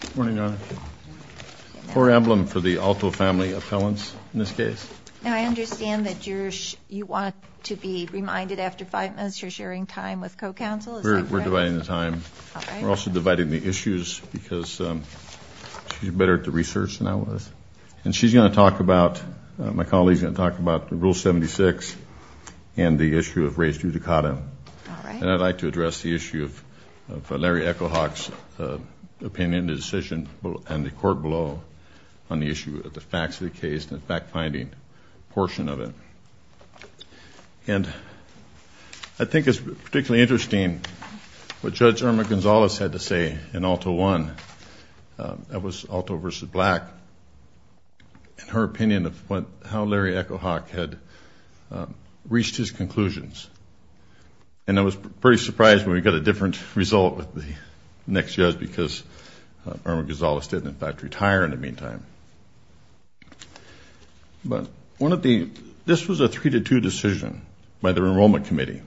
Good morning, Your Honor. Poor emblem for the Alto family appellants in this case. I understand that you want to be reminded after five minutes you're sharing time with co-counsel. We're dividing the time. We're also dividing the issues because she's better at the research than I was. And she's going to talk about, my colleague's going to talk about Rule 76 and the issue of res judicata. All right. And I'd like to address the issue of Larry Echo-Hawk's opinion, the decision, and the court below on the issue of the facts of the case and the fact-finding portion of it. And I think it's particularly interesting what Judge Irma Gonzalez had to say in Alto I. That was Alto v. Black and her opinion of how Larry Echo-Hawk had reached his conclusions. And I was pretty surprised when we got a different result with the next judge because Irma Gonzalez did, in fact, retire in the meantime. But this was a three-to-two decision by the Enrollment Committee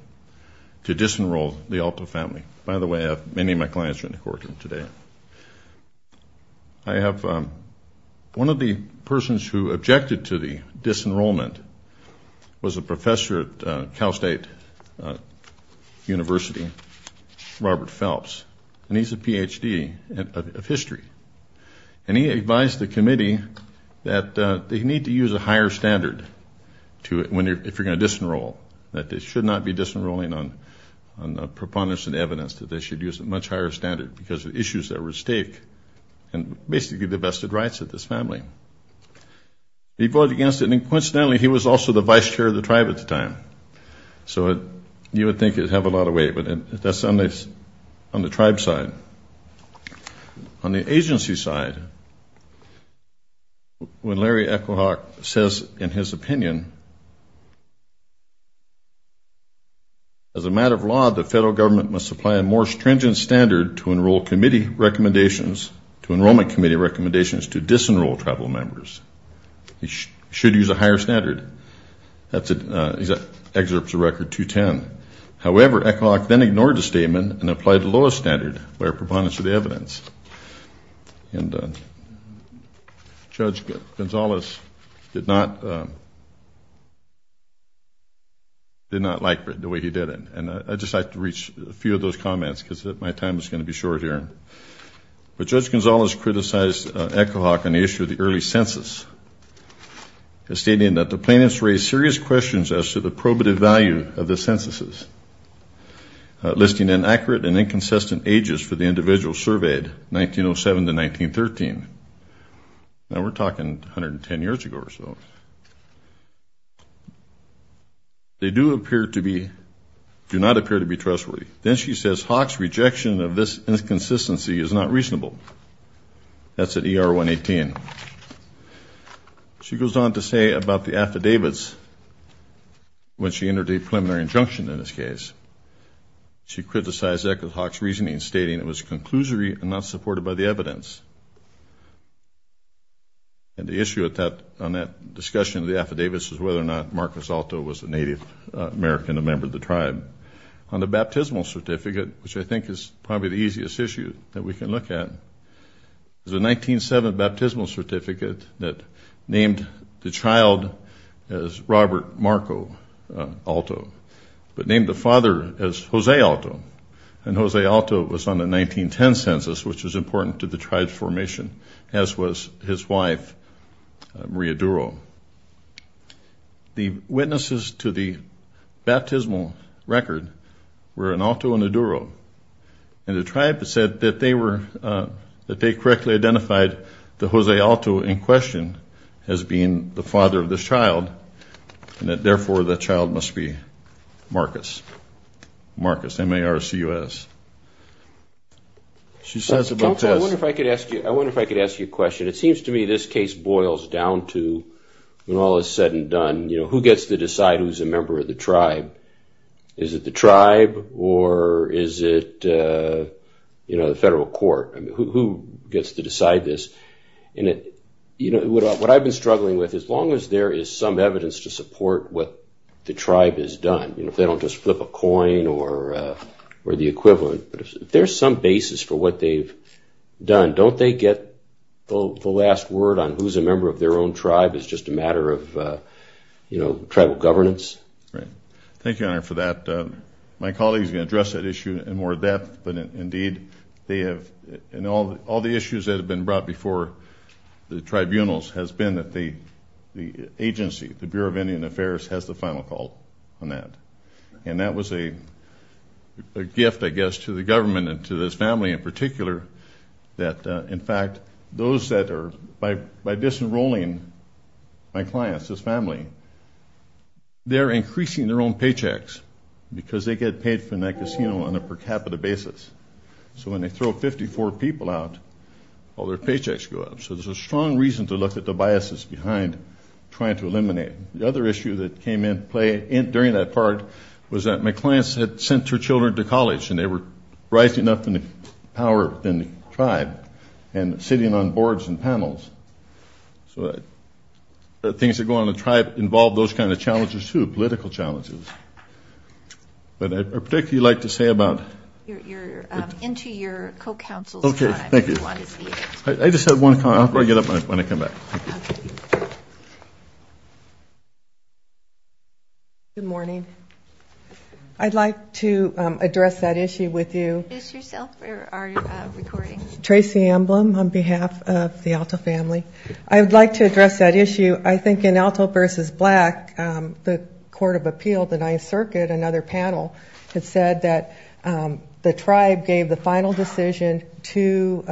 to disenroll the Alto family. By the way, many of my clients are in the courtroom today. I have one of the persons who objected to the disenrollment was a professor at Cal State University, Robert Phelps. And he's a Ph.D. of history. And he advised the committee that they need to use a higher standard if you're going to disenroll, that they should not be disenrolling on a preponderance of evidence, that they should use a much higher standard because of issues that were at stake and basically the vested rights of this family. He voted against it, and coincidentally, he was also the vice chair of the tribe at the time. So you would think it would have a lot of weight, but that's on the tribe side. On the agency side, when Larry Echo-Hawk says in his opinion, as a matter of law, the federal government must apply a more stringent standard to Enrollment Committee recommendations to disenroll tribal members. He should use a higher standard. He excerpts a record 210. However, Echo-Hawk then ignored the statement and applied the lowest standard by a preponderance of evidence. And Judge Gonzales did not like the way he did it. And I'd just like to reach a few of those comments because my time is going to be short here. But Judge Gonzales criticized Echo-Hawk on the issue of the early census, stating that the plaintiffs raised serious questions as to the probative value of the censuses, listing inaccurate and inconsistent ages for the individuals surveyed, 1907 to 1913. Now, we're talking 110 years ago or so. They do not appear to be trustworthy. Then she says Hawk's rejection of this inconsistency is not reasonable. That's at ER 118. She goes on to say about the affidavits when she entered a preliminary injunction in this case. She criticized Echo-Hawk's reasoning, stating it was conclusory and not supported by the evidence. And the issue on that discussion of the affidavits is whether or not Marcus Alto was a Native American, a member of the tribe. On the baptismal certificate, which I think is probably the easiest issue that we can look at, is a 1907 baptismal certificate that named the child as Robert Marco Alto, but named the father as Jose Alto. And Jose Alto was on the 1910 census, which was important to the tribe's formation, as was his wife, Maria Duro. The witnesses to the baptismal record were an Alto and a Duro. And the tribe said that they correctly identified the Jose Alto in question as being the father of this child, and that therefore the child must be Marcus, Marcus, M-A-R-C-U-S. I wonder if I could ask you a question. It seems to me this case boils down to, when all is said and done, who gets to decide who's a member of the tribe? Is it the tribe or is it the federal court? Who gets to decide this? What I've been struggling with, as long as there is some evidence to support what the tribe has done, if they don't just flip a coin or the equivalent, if there's some basis for what they've done, don't they get the last word on who's a member of their own tribe? It's just a matter of tribal governance? Thank you, Your Honor, for that. My colleague is going to address that issue in more depth, but indeed they have, and all the issues that have been brought before the tribunals has been that the agency, the Bureau of Indian Affairs, has the final call on that. And that was a gift, I guess, to the government and to this family in particular, that in fact those that are, by disenrolling my clients, this family, they're increasing their own paychecks because they get paid from that casino on a per capita basis. So when they throw 54 people out, all their paychecks go up. So there's a strong reason to look at the biases behind trying to eliminate. The other issue that came into play during that part was that my clients had sent their children to college and they were rising up in the power within the tribe and sitting on boards and panels. So the things that go on in the tribe involve those kind of challenges, too, political challenges. But I'd particularly like to say about... You're into your co-counsel's time. Good morning. I'd like to address that issue with you. Trace the emblem on behalf of the Alto family. I'd like to address that issue. I think in Alto v. Black, the Court of Appeal, the Ninth Circuit, another panel, had said that the tribe gave the final decision to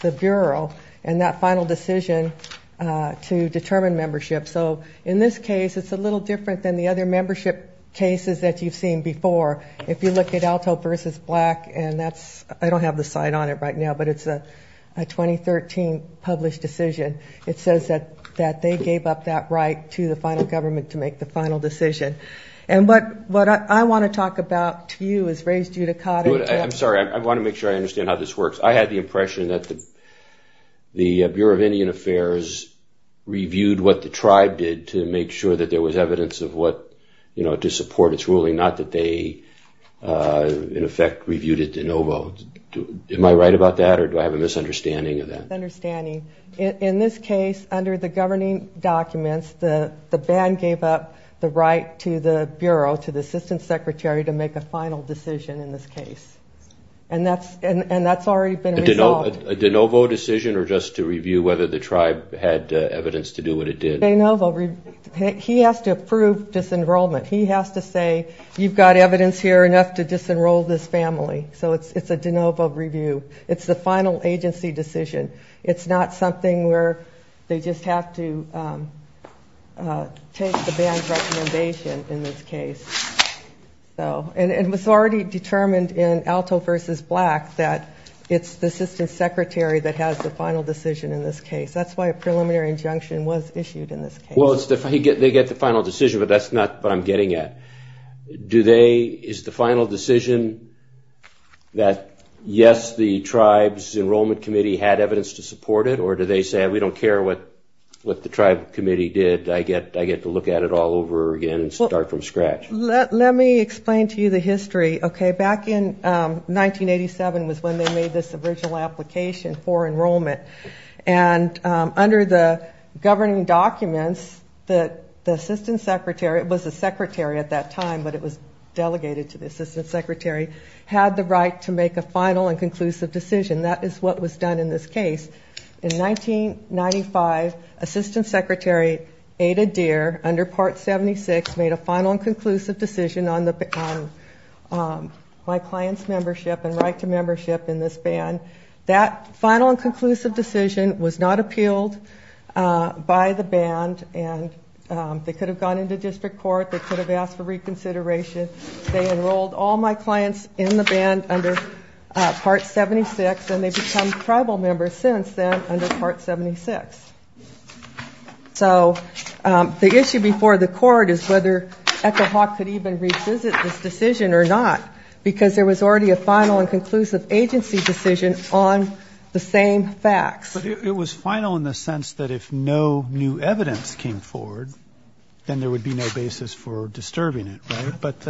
the Bureau and that final decision to determine membership. So in this case, it's a little different than the other membership cases that you've seen before. If you look at Alto v. Black, and that's... I don't have the site on it right now, but it's a 2013 published decision. It says that they gave up that right to the final government to make the final decision. And what I want to talk about to you is... I'm sorry, I want to make sure I understand how this works. I had the impression that the Bureau of Indian Affairs reviewed what the tribe did to make sure that there was evidence to support its ruling, not that they in effect reviewed it de novo. Am I right about that, or do I have a misunderstanding of that? Misunderstanding. In this case, under the governing documents, the band gave up the right to the Bureau, to the Assistant Secretary, to make a final decision in this case. And that's already been resolved. A de novo decision, or just to review whether the tribe had evidence to do what it did? De novo. He has to approve disenrollment. He has to say, you've got evidence here enough to disenroll this family. So it's a de novo review. It's the final agency decision. It's not something where they just have to take the band's recommendation in this case. And it was already determined in Alto v. Black that it's the Assistant Secretary that has the final decision in this case. That's why a preliminary injunction was issued in this case. Well, they get the final decision, but that's not what I'm getting at. Is the final decision that, yes, the tribe's enrollment committee had evidence to support it, or do they say, we don't care what the tribe committee did, I get to look at it all over again and start from scratch? Let me explain to you the history. Back in 1987 was when they made this original application for enrollment. And under the governing documents, the Assistant Secretary, it was the secretary at that time, but it was delegated to the Assistant Secretary, had the right to make a final and conclusive decision. That is what was done in this case. In 1995, Assistant Secretary Ada Deer, under Part 76, made a final and conclusive decision on my client's membership and right to membership in this band. That final and conclusive decision was not appealed by the band, and they could have gone into district court, they could have asked for reconsideration. They enrolled all my clients in the band under Part 76, and they've become tribal members since then under Part 76. So the issue before the court is whether Echo Hawk could even revisit this decision or not, because there was already a final and conclusive agency decision on the same facts. But it was final in the sense that if no new evidence came forward, then there would be no basis for disturbing it, right? But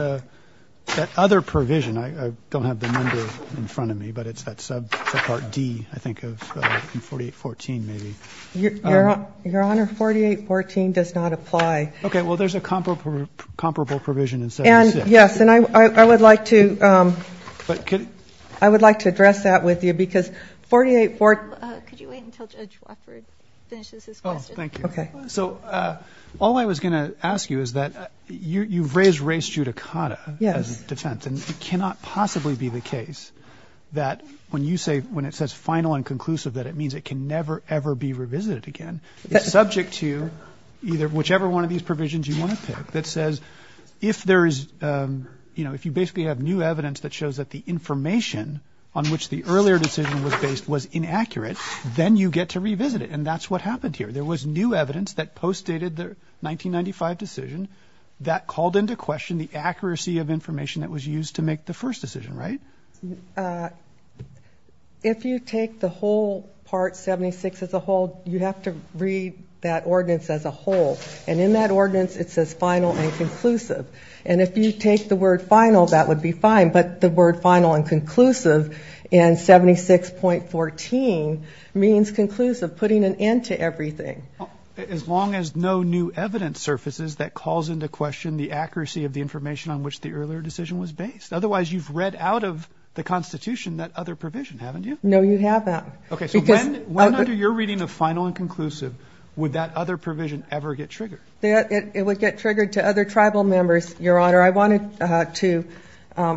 that other provision, I don't have the number in front of me, but it's that sub for Part D, I think, of 4814, maybe. Your Honor, 4814 does not apply. Okay, well, there's a comparable provision in 76. Yes, and I would like to address that with you, because 4814... Thank you. So all I was going to ask you is that you've raised res judicata as a defense, and it cannot possibly be the case that when you say, when it says final and conclusive, that it means it can never, ever be revisited again. It's subject to either whichever one of these provisions you want to pick that says if there is, you know, new evidence that postdated the 1995 decision that called into question the accuracy of information that was used to make the first decision, right? If you take the whole Part 76 as a whole, you have to read that ordinance as a whole. And in that ordinance, it says final and conclusive. And if you take the word final, that would be fine, but the word final and conclusive in 76.14 means conclusive, putting an end to everything. As long as no new evidence surfaces that calls into question the accuracy of the information on which the earlier decision was based. Otherwise, you've read out of the Constitution that other provision, haven't you? No, you haven't. Okay, so when under your reading of final and conclusive would that other provision ever get triggered? It would get triggered to other tribal members, Your Honor. I wanted to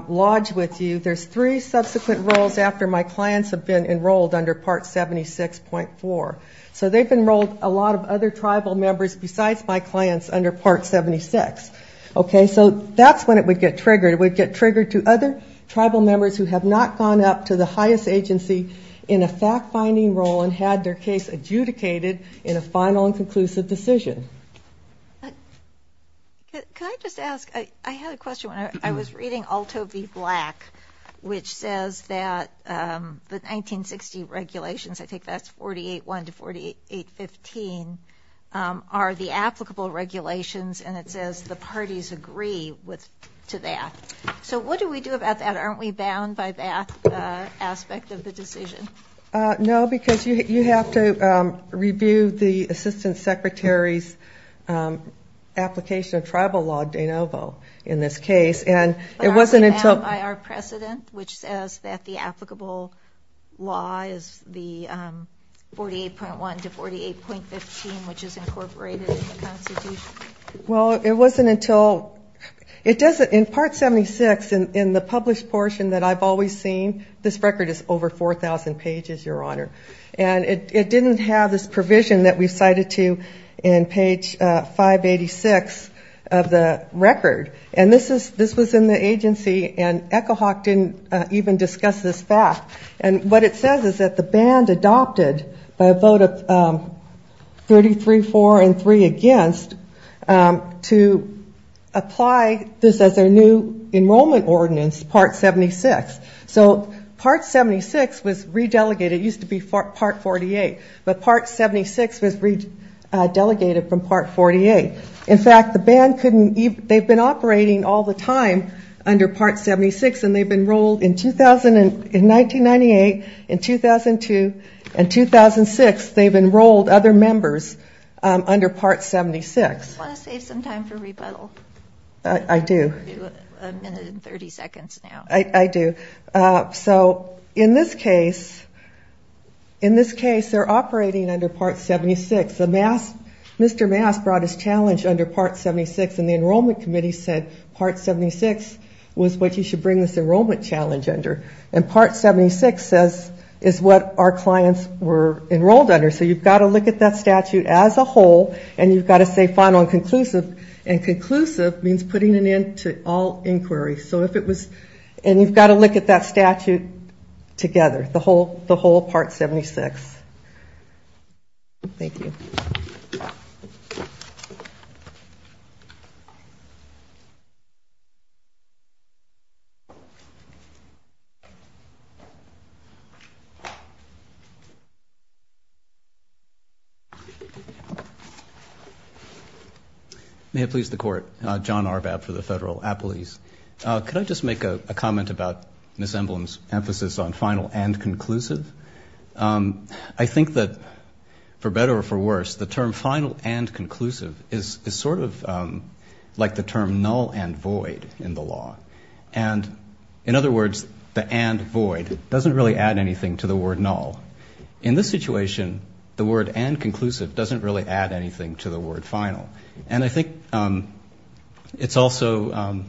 lodge with you, there's three subsequent roles after my clients have been enrolled under Part 76.4. So they've enrolled a lot of other tribal members besides my clients under Part 76. Okay, so that's when it would get triggered. It would get triggered to other tribal members who have not gone up to the highest agency in a fact-finding role and had their case adjudicated in a final and conclusive decision. Can I just ask, I had a question when I was reading Alto v. Black, which says that the 1960 regulations, I think that's 48.1 to 48.15, are the applicable regulations, and it says the parties agree to that. So what do we do about that? Aren't we bound by that aspect of the decision? No, because you have to review the assistant secretary's application of tribal law, de novo, in this case. But aren't we bound by our precedent, which says that the applicable law is the 48.1 to 48.15, which is incorporated in the Constitution? Well, it wasn't until, it doesn't, in Part 76, in the published portion that I've always seen, this record is over 4,000 pages. And it didn't have this provision that we cited to in page 586 of the record. And this was in the agency, and Echo Hawk didn't even discuss this fact. And what it says is that the band adopted, by a vote of 33-4 and three against, to apply this as their new enrollment ordinance, Part 76. So Part 76 was re-delegated, it used to be Part 48, but Part 76 was re-delegated from Part 48. In fact, the band couldn't, they've been operating all the time under Part 76, and they've enrolled, in 1998, in 2002, and 2006, they've enrolled other members under Part 76. I just want to save some time for rebuttal. I do. A minute and 30 seconds now. I do. So in this case, they're operating under Part 76. Mr. Mass brought his challenge under Part 76, and the Enrollment Committee said Part 76 was what you should bring this enrollment challenge under. And Part 76 says, is what our clients were enrolled under. So you've got to look at that statute as a whole, and you've got to say final and conclusive. And conclusive means putting an end to all inquiry. And you've got to look at that statute together, the whole Part 76. Thank you. May it please the Court. John Arbab for the Federal Appellees. Could I just make a comment about Ms. Emblom's emphasis on final and conclusive? I think that, for better or for worse, the term final and conclusive is sort of like the term null and void in the law. And, in other words, the and void doesn't really add anything to the word null. In this situation, the word and conclusive doesn't really add anything to the word final. And I think it's also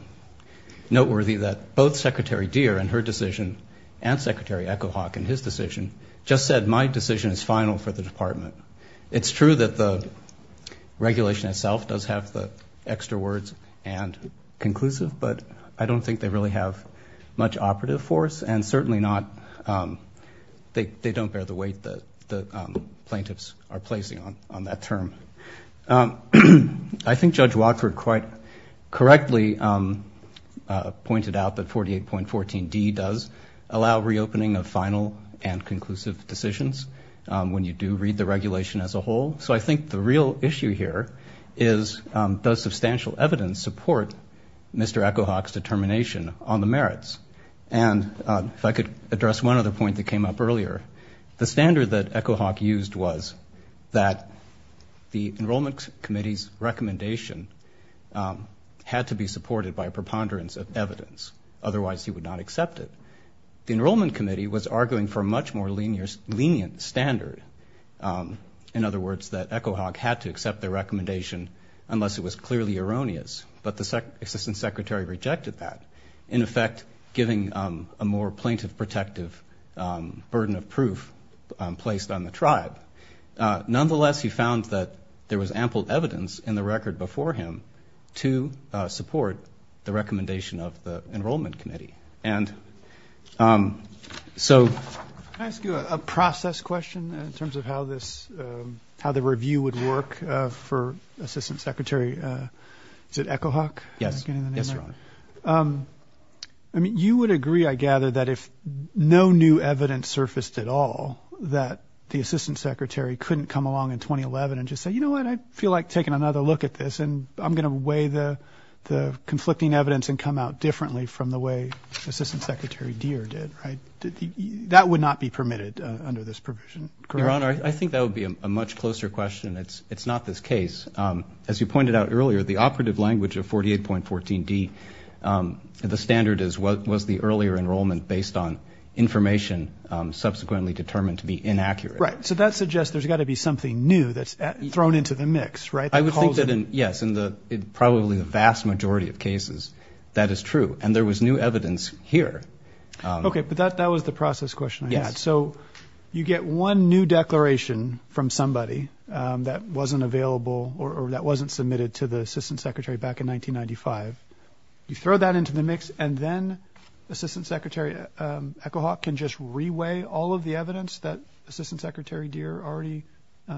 noteworthy that both Secretary Deere and her decision, and Secretary Echohawk in his decision, just said my decision is final for the Department. It's true that the regulation itself does have the extra words and conclusive, but I don't think they really have much operative force, and certainly not they don't bear the weight that the plaintiffs are placing on that term. I think Judge Watford quite correctly pointed out that 48.14d does allow reopening of final and conclusive decisions when you do read the regulation as a whole. So I think the real issue here is does substantial evidence support Mr. Echohawk's determination on the merits? And if I could address one other point that came up earlier, the standard that Echohawk used was that the Enrollment Committee's recommendation had to be supported by a preponderance of evidence, otherwise he would not accept it. The Enrollment Committee was arguing for a much more lenient standard. In other words, that Echohawk had to accept the recommendation unless it was clearly erroneous. But the Assistant Secretary rejected that, in effect giving a more plaintiff-protective burden of proof placed on the tribe. Nonetheless, he found that there was ample evidence in the record before him to support the recommendation of the Enrollment Committee. And so... Can I ask you a process question in terms of how this, how the review would work for Assistant Secretary, is it Echohawk? Yes. I mean, you would agree, I gather, that if no new evidence surfaced at all, that the Assistant Secretary couldn't come along in 2011 and just say, you know what, I feel like taking another look at this and I'm going to weigh the conflicting evidence and come out differently from the way Assistant Secretary Deere did, right? That would not be permitted under this provision, correct? Your Honor, I think that would be a much closer question. It's not this case. As you pointed out earlier, the operative language of 48.14d, the standard is, was the earlier enrollment based on information subsequently determined to be inaccurate? Right. So that suggests there's got to be something new that's thrown into the mix, right? I would think that, yes, in probably the vast majority of cases that is true. And there was new evidence here. Okay. But that was the process question I had. So you get one new declaration from somebody that wasn't available or that wasn't submitted to the Assistant Secretary back in 1995. You throw that into the mix and then Assistant Secretary Echohawk can just re-weigh all of the evidence that Assistant Secretary Deere already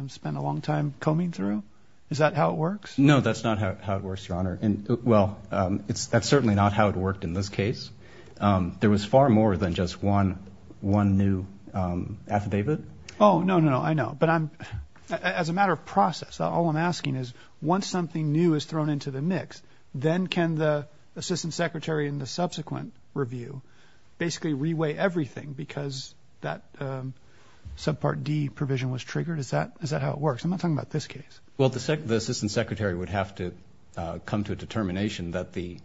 spent a long time combing through? Is that how it works? No, that's not how it works, Your Honor. Well, that's certainly not how it worked in this case. There was far more than just one new affidavit. Oh, no, no, no. I know. But as a matter of process, all I'm asking is once something new is thrown into the mix, then can the Assistant Secretary in the subsequent review basically re-weigh everything because that subpart D provision was triggered? Is that how it works? I'm not talking about this case. Well, the Assistant Secretary would have to come to a determination that the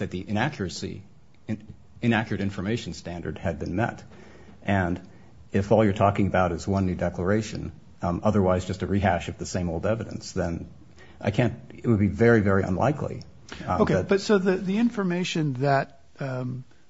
inaccuracy, inaccurate information standard had been met. And if all you're talking about is one new declaration, otherwise just a rehash of the same old evidence, then I can't, it would be very, very unlikely. Okay. But so the information that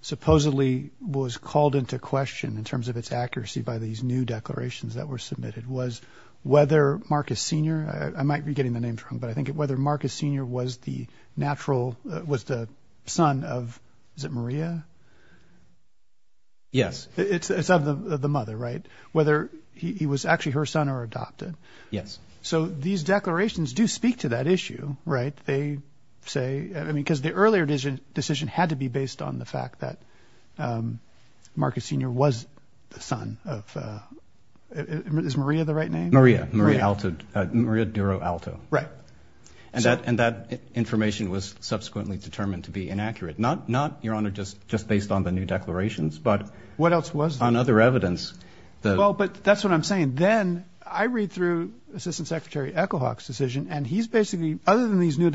supposedly was called into question in terms of its accuracy by these new declarations that were submitted was whether Marcus Senior, I might be getting the names wrong, but I think whether Marcus Senior was the natural, was the son of, is it Maria? Yes. It's of the mother, right? Whether he was actually her son or adopted. Yes. So these declarations do speak to that issue, right? They say, I mean, because the earlier decision had to be based on the fact that Marcus Senior was the son of, is Maria the right name? Maria, Maria Duro Alto. Right. And that information was subsequently determined to be inaccurate. Not, Your Honor, just based on the new declarations, but on other evidence. Well, but that's what I'm saying. Then I read through Assistant Secretary Echo Hawk's decision and he's basically, other than these new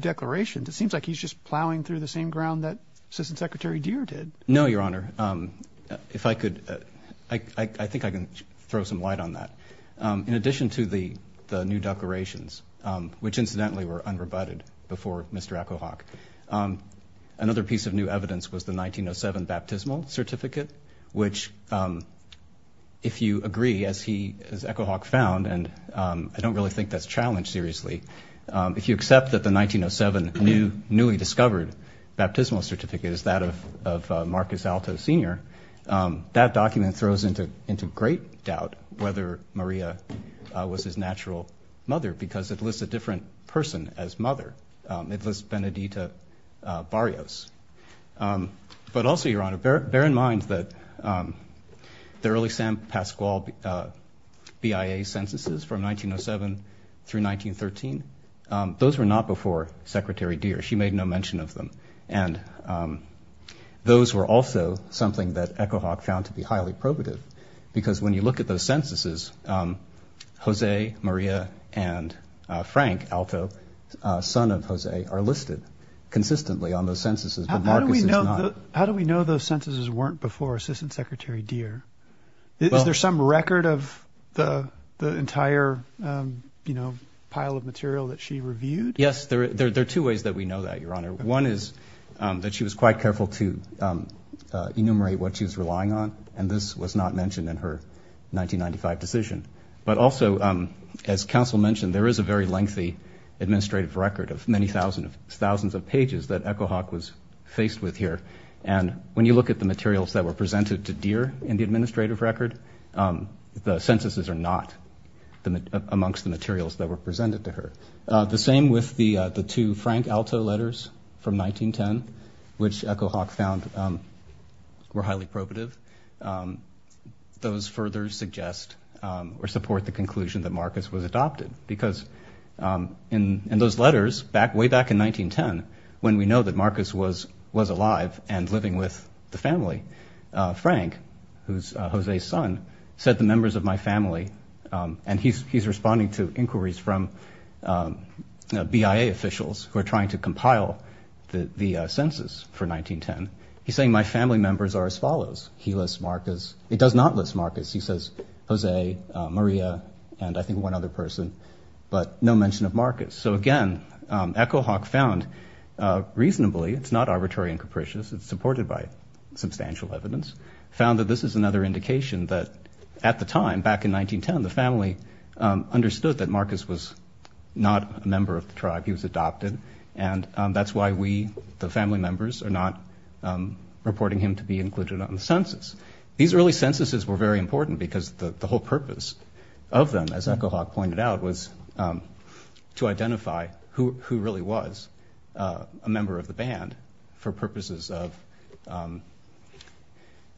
declarations, it seems like he's just plowing through the same ground that Assistant Secretary Deere did. No, Your Honor. If I could, I think I can throw some light on that. In addition to the new declarations, which incidentally were unrebutted before Mr. Echo Hawk, another piece of new evidence was the 1907 baptismal certificate, which if you agree, as he, as Echo Hawk found, and I don't really think that's challenged seriously, if you accept that the 1907 new, newly discovered baptismal certificate is that of Marcus Alto Senior, that document throws into great doubt whether Maria was his natural mother, because it lists a different person as mother. It lists Benedita Barrios. But also, Your Honor, bear in mind that the early San Pasqual BIA censuses from 1907 through 1913, those were not before Secretary Deere. She made no mention of them. And those were also something that Echo Hawk found to be highly probative, because when you look at those censuses, Jose, Maria, and Frank Alto, son of Jose, are listed consistently on those censuses, but Marcus is not. How do we know those censuses weren't before Assistant Secretary Deere? Is there some record of the entire pile of material that she reviewed? Yes, there are two ways that we know that, Your Honor. One is that she was quite careful to enumerate what she was relying on, and this was not mentioned in her 1995 decision. But also, as counsel mentioned, there is a very lengthy administrative record of many thousands of pages that Echo Hawk was faced with here, and when you look at the materials that were presented to Deere in the administrative record, the censuses are not amongst the materials that were presented to her. The same with the two Frank Alto letters from 1910, which Echo Hawk found were highly probative. Those further suggest or support the conclusion that Marcus was adopted, because in those letters, way back in 1910, when we know that Marcus was alive and living with the family, Frank, who's Jose's son, said, the members of my family, and he's responding to inquiries from BIA officials who are trying to compile the census for 1910. He's saying my family members are as follows. He lists Marcus, he does not list Marcus, he says Jose, Maria, and I think one other person, but no mention of Marcus. So again, Echo Hawk found reasonably, it's not arbitrary and capricious, it's supported by substantial evidence, found that this is another indication that at the time, back in 1910, the family understood that Marcus was not a member of the tribe, he was adopted, and that's why we, the family members, are not reporting him to be included on the census. These early censuses were very important, because the whole purpose of them, as Echo Hawk pointed out, was to identify who really was a member of the band, for purposes of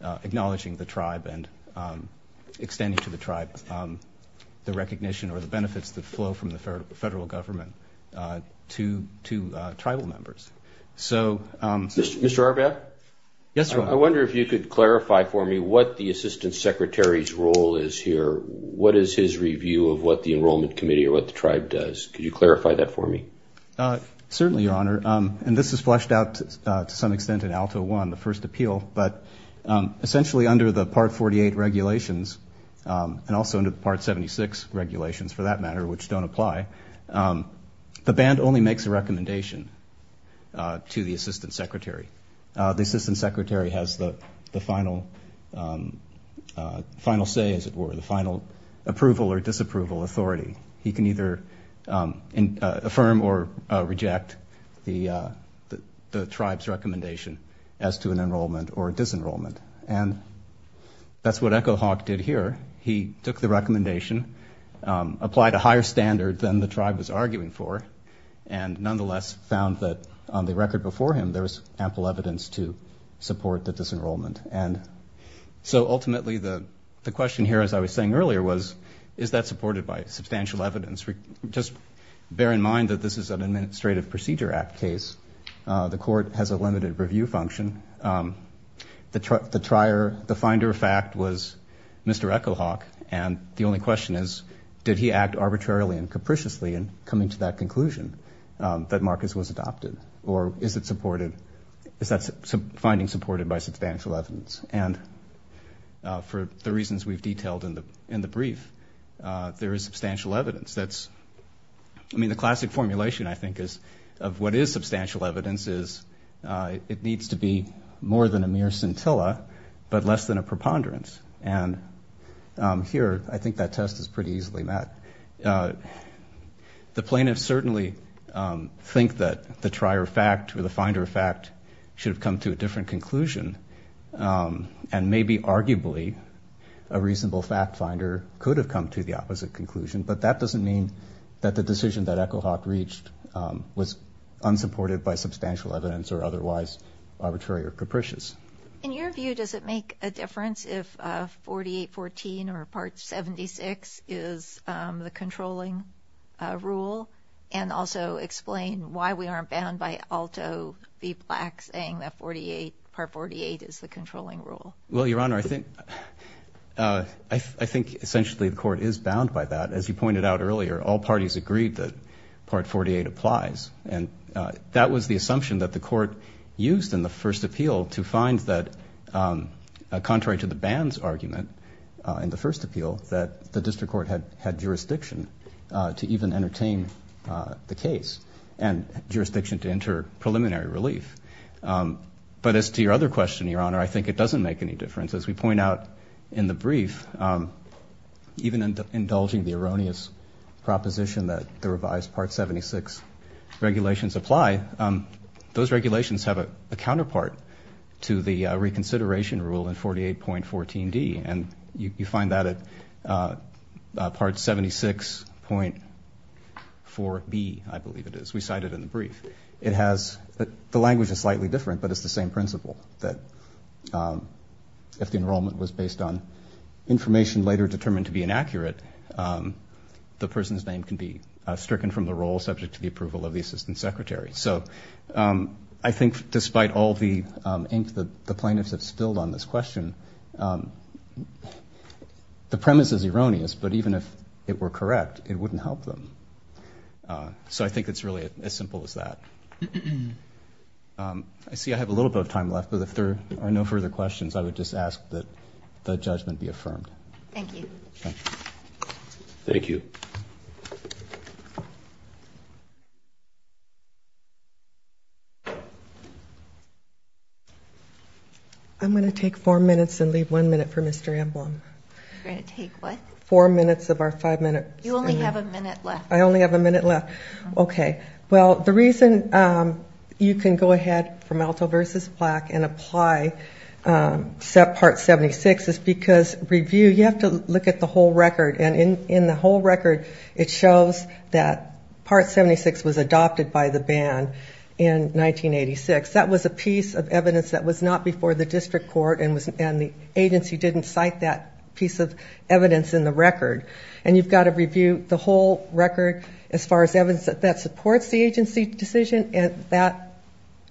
acknowledging the tribe and extending to the tribe the recognition or the benefits that flow from the federal government to tribal members. So... Mr. Arbat? Yes, Your Honor. I wonder if you could clarify for me what the Assistant Secretary's role is here, what is his review of what the Enrollment Committee or what the tribe does? Could you clarify that for me? Certainly, Your Honor, and this is fleshed out to some extent in ALTA I, the first appeal, but essentially under the Part 48 regulations, and also under the Part 76 regulations, for that matter, which don't apply, the band only makes a recommendation to the Assistant Secretary. The Assistant Secretary has the final say, as it were, the final approval or disapproval authority. He can either affirm or reject the tribe's recommendation as to an enrollment or disenrollment, and that's what Echo Hawk did here. He took the recommendation, applied a higher standard than the tribe was arguing for, and nonetheless found that on the record before him there was ample evidence to support the disenrollment. And so ultimately the question here, as I was saying earlier, was is that supported by substantial evidence? Just bear in mind that this is an Administrative Procedure Act case. The court has a limited review function. The finder of fact was Mr. Echo Hawk, and the only question is did he act arbitrarily and capriciously in coming to that conclusion that Marcus was adopted, or is that finding supported by substantial evidence? And for the reasons we've detailed in the brief, there is substantial evidence. I mean, the classic formulation, I think, of what is substantial evidence is it needs to be more than a mere scintilla, but less than a preponderance. And here I think that test is pretty easily met. The plaintiffs certainly think that the trier of fact or the finder of fact should have come to a different conclusion, and maybe arguably a reasonable fact finder could have come to the opposite conclusion, but that doesn't mean that the decision that Echo Hawk reached was unsupported by substantial evidence or otherwise arbitrary or capricious. In your view, does it make a difference if 4814 or Part 76 is the controlling rule, and also explain why we aren't bound by Alto v. Black saying that Part 48 is the controlling rule? Well, Your Honor, I think essentially the court is bound by that. As you pointed out earlier, all parties agreed that Part 48 applies, and that was the assumption that the court used in the first appeal to find that, contrary to the band's argument in the first appeal, that the district court had jurisdiction to even entertain the case and jurisdiction to enter preliminary relief. But as to your other question, Your Honor, I think it doesn't make any difference. As we point out in the brief, even indulging the erroneous proposition that the revised Part 76 regulations apply, those regulations have a counterpart to the reconsideration rule in 48.14d, and you find that at Part 76.4b, I believe it is. We cite it in the brief. The language is slightly different, but it's the same principle, that if the enrollment was based on information later determined to be inaccurate, the person's name can be stricken from the role subject to the approval of the assistant secretary. So I think despite all the ink that the plaintiffs have spilled on this question, the premise is erroneous, but even if it were correct, it wouldn't help them. So I think it's really as simple as that. I see I have a little bit of time left, but if there are no further questions, I would just ask that the judgment be affirmed. Thank you. I'm going to take four minutes and leave one minute for Mr. Amblom. You're going to take what? Four minutes of our five-minute session. You only have a minute left. I only have a minute left. Okay. Well, the reason you can go ahead from Alto v. Black and apply Part 76 is because review, you have to look at the whole record, and in the whole record, it shows that Part 76 was adopted by the ban in 1986. That was a piece of evidence that was not before the district court, and the agency didn't cite that piece of evidence in the record. And you've got to review the whole record as far as evidence that supports the agency decision and that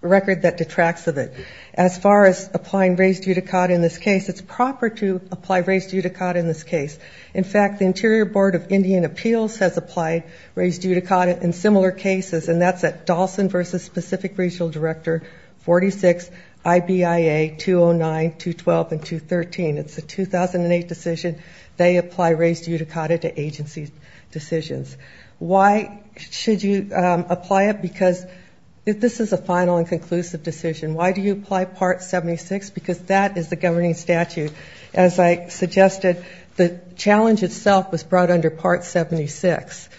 record that detracts of it. As far as applying raised judicata in this case, it's proper to apply raised judicata in this case. The Interior Board of Indian Appeals has applied raised judicata in similar cases, and that's at Dawson v. Specific Regional Director 46, IBIA 209, 212, and 213. It's a 2008 decision. They apply raised judicata to agency decisions. Why should you apply it? Because this is a final and conclusive decision. Why do you apply Part 76? Because that is the governing statute. As I suggested, the challenge itself was brought under Part 76,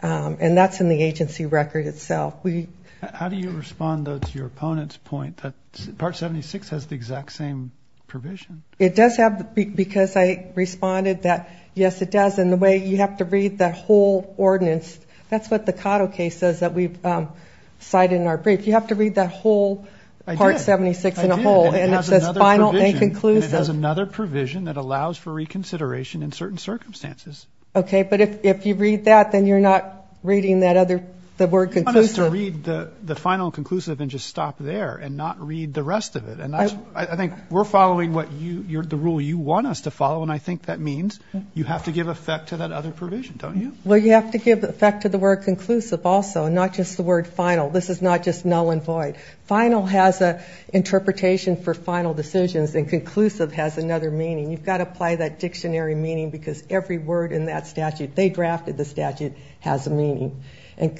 and that's in the agency record itself. How do you respond, though, to your opponent's point that Part 76 has the exact same provision? It does have, because I responded that, yes, it does. And the way you have to read that whole ordinance, that's what the Cotto case says that we've cited in our brief. You have to read that whole Part 76 in a whole, and it says final and conclusive. And it has another provision that allows for reconsideration in certain circumstances. Okay, but if you read that, then you're not reading that other, the word conclusive. You want us to read the final and conclusive and just stop there and not read the rest of it. And I think we're following the rule you want us to follow, and I think that means you have to give effect to that other provision, don't you? Well, you have to give effect to the word conclusive also, not just the word final. This is not just null and void. Final has an interpretation for final decisions, and conclusive has another meaning. You've got to apply that dictionary meaning, because every word in that statute, they drafted the statute, has a meaning. And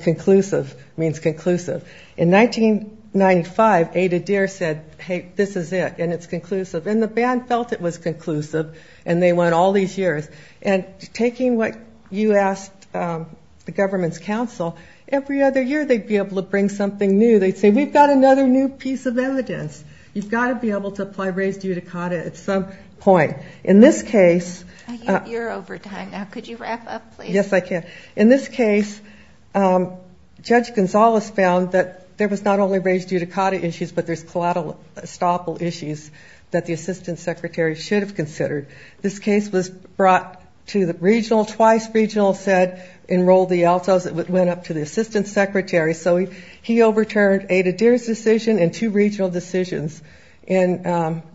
conclusive means conclusive. In 1995, Ada Deer said, hey, this is it, and it's conclusive. And the band felt it was conclusive, and they went all these years. And taking what you asked the government's counsel, every other year they'd be able to bring something new. They'd say, we've got another new piece of evidence. You've got to be able to apply res judicata at some point. In this case, Judge Gonzalez found that there was not only res judicata issues, but there's collateral estoppel issues that the assistant secretary should have considered. Twice regional said enroll the Altos, it went up to the assistant secretary. So he overturned Ada Deer's decision and two regional decisions in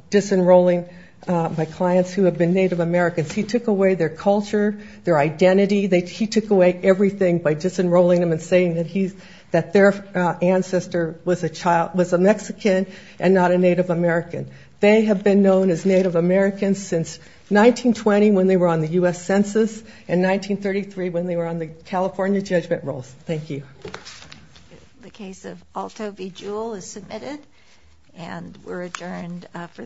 disenrolling my clients who have been Native Americans. He took away their culture, their identity. He took away everything by disenrolling them and saying that their ancestor was a Mexican and not a Native American. They have been known as Native Americans since 1920 when they were on the U.S. census and 1933 when they were on the California judgment rolls. Thank you. The case of Alto v. Jewel is submitted, and we're adjourned for this session.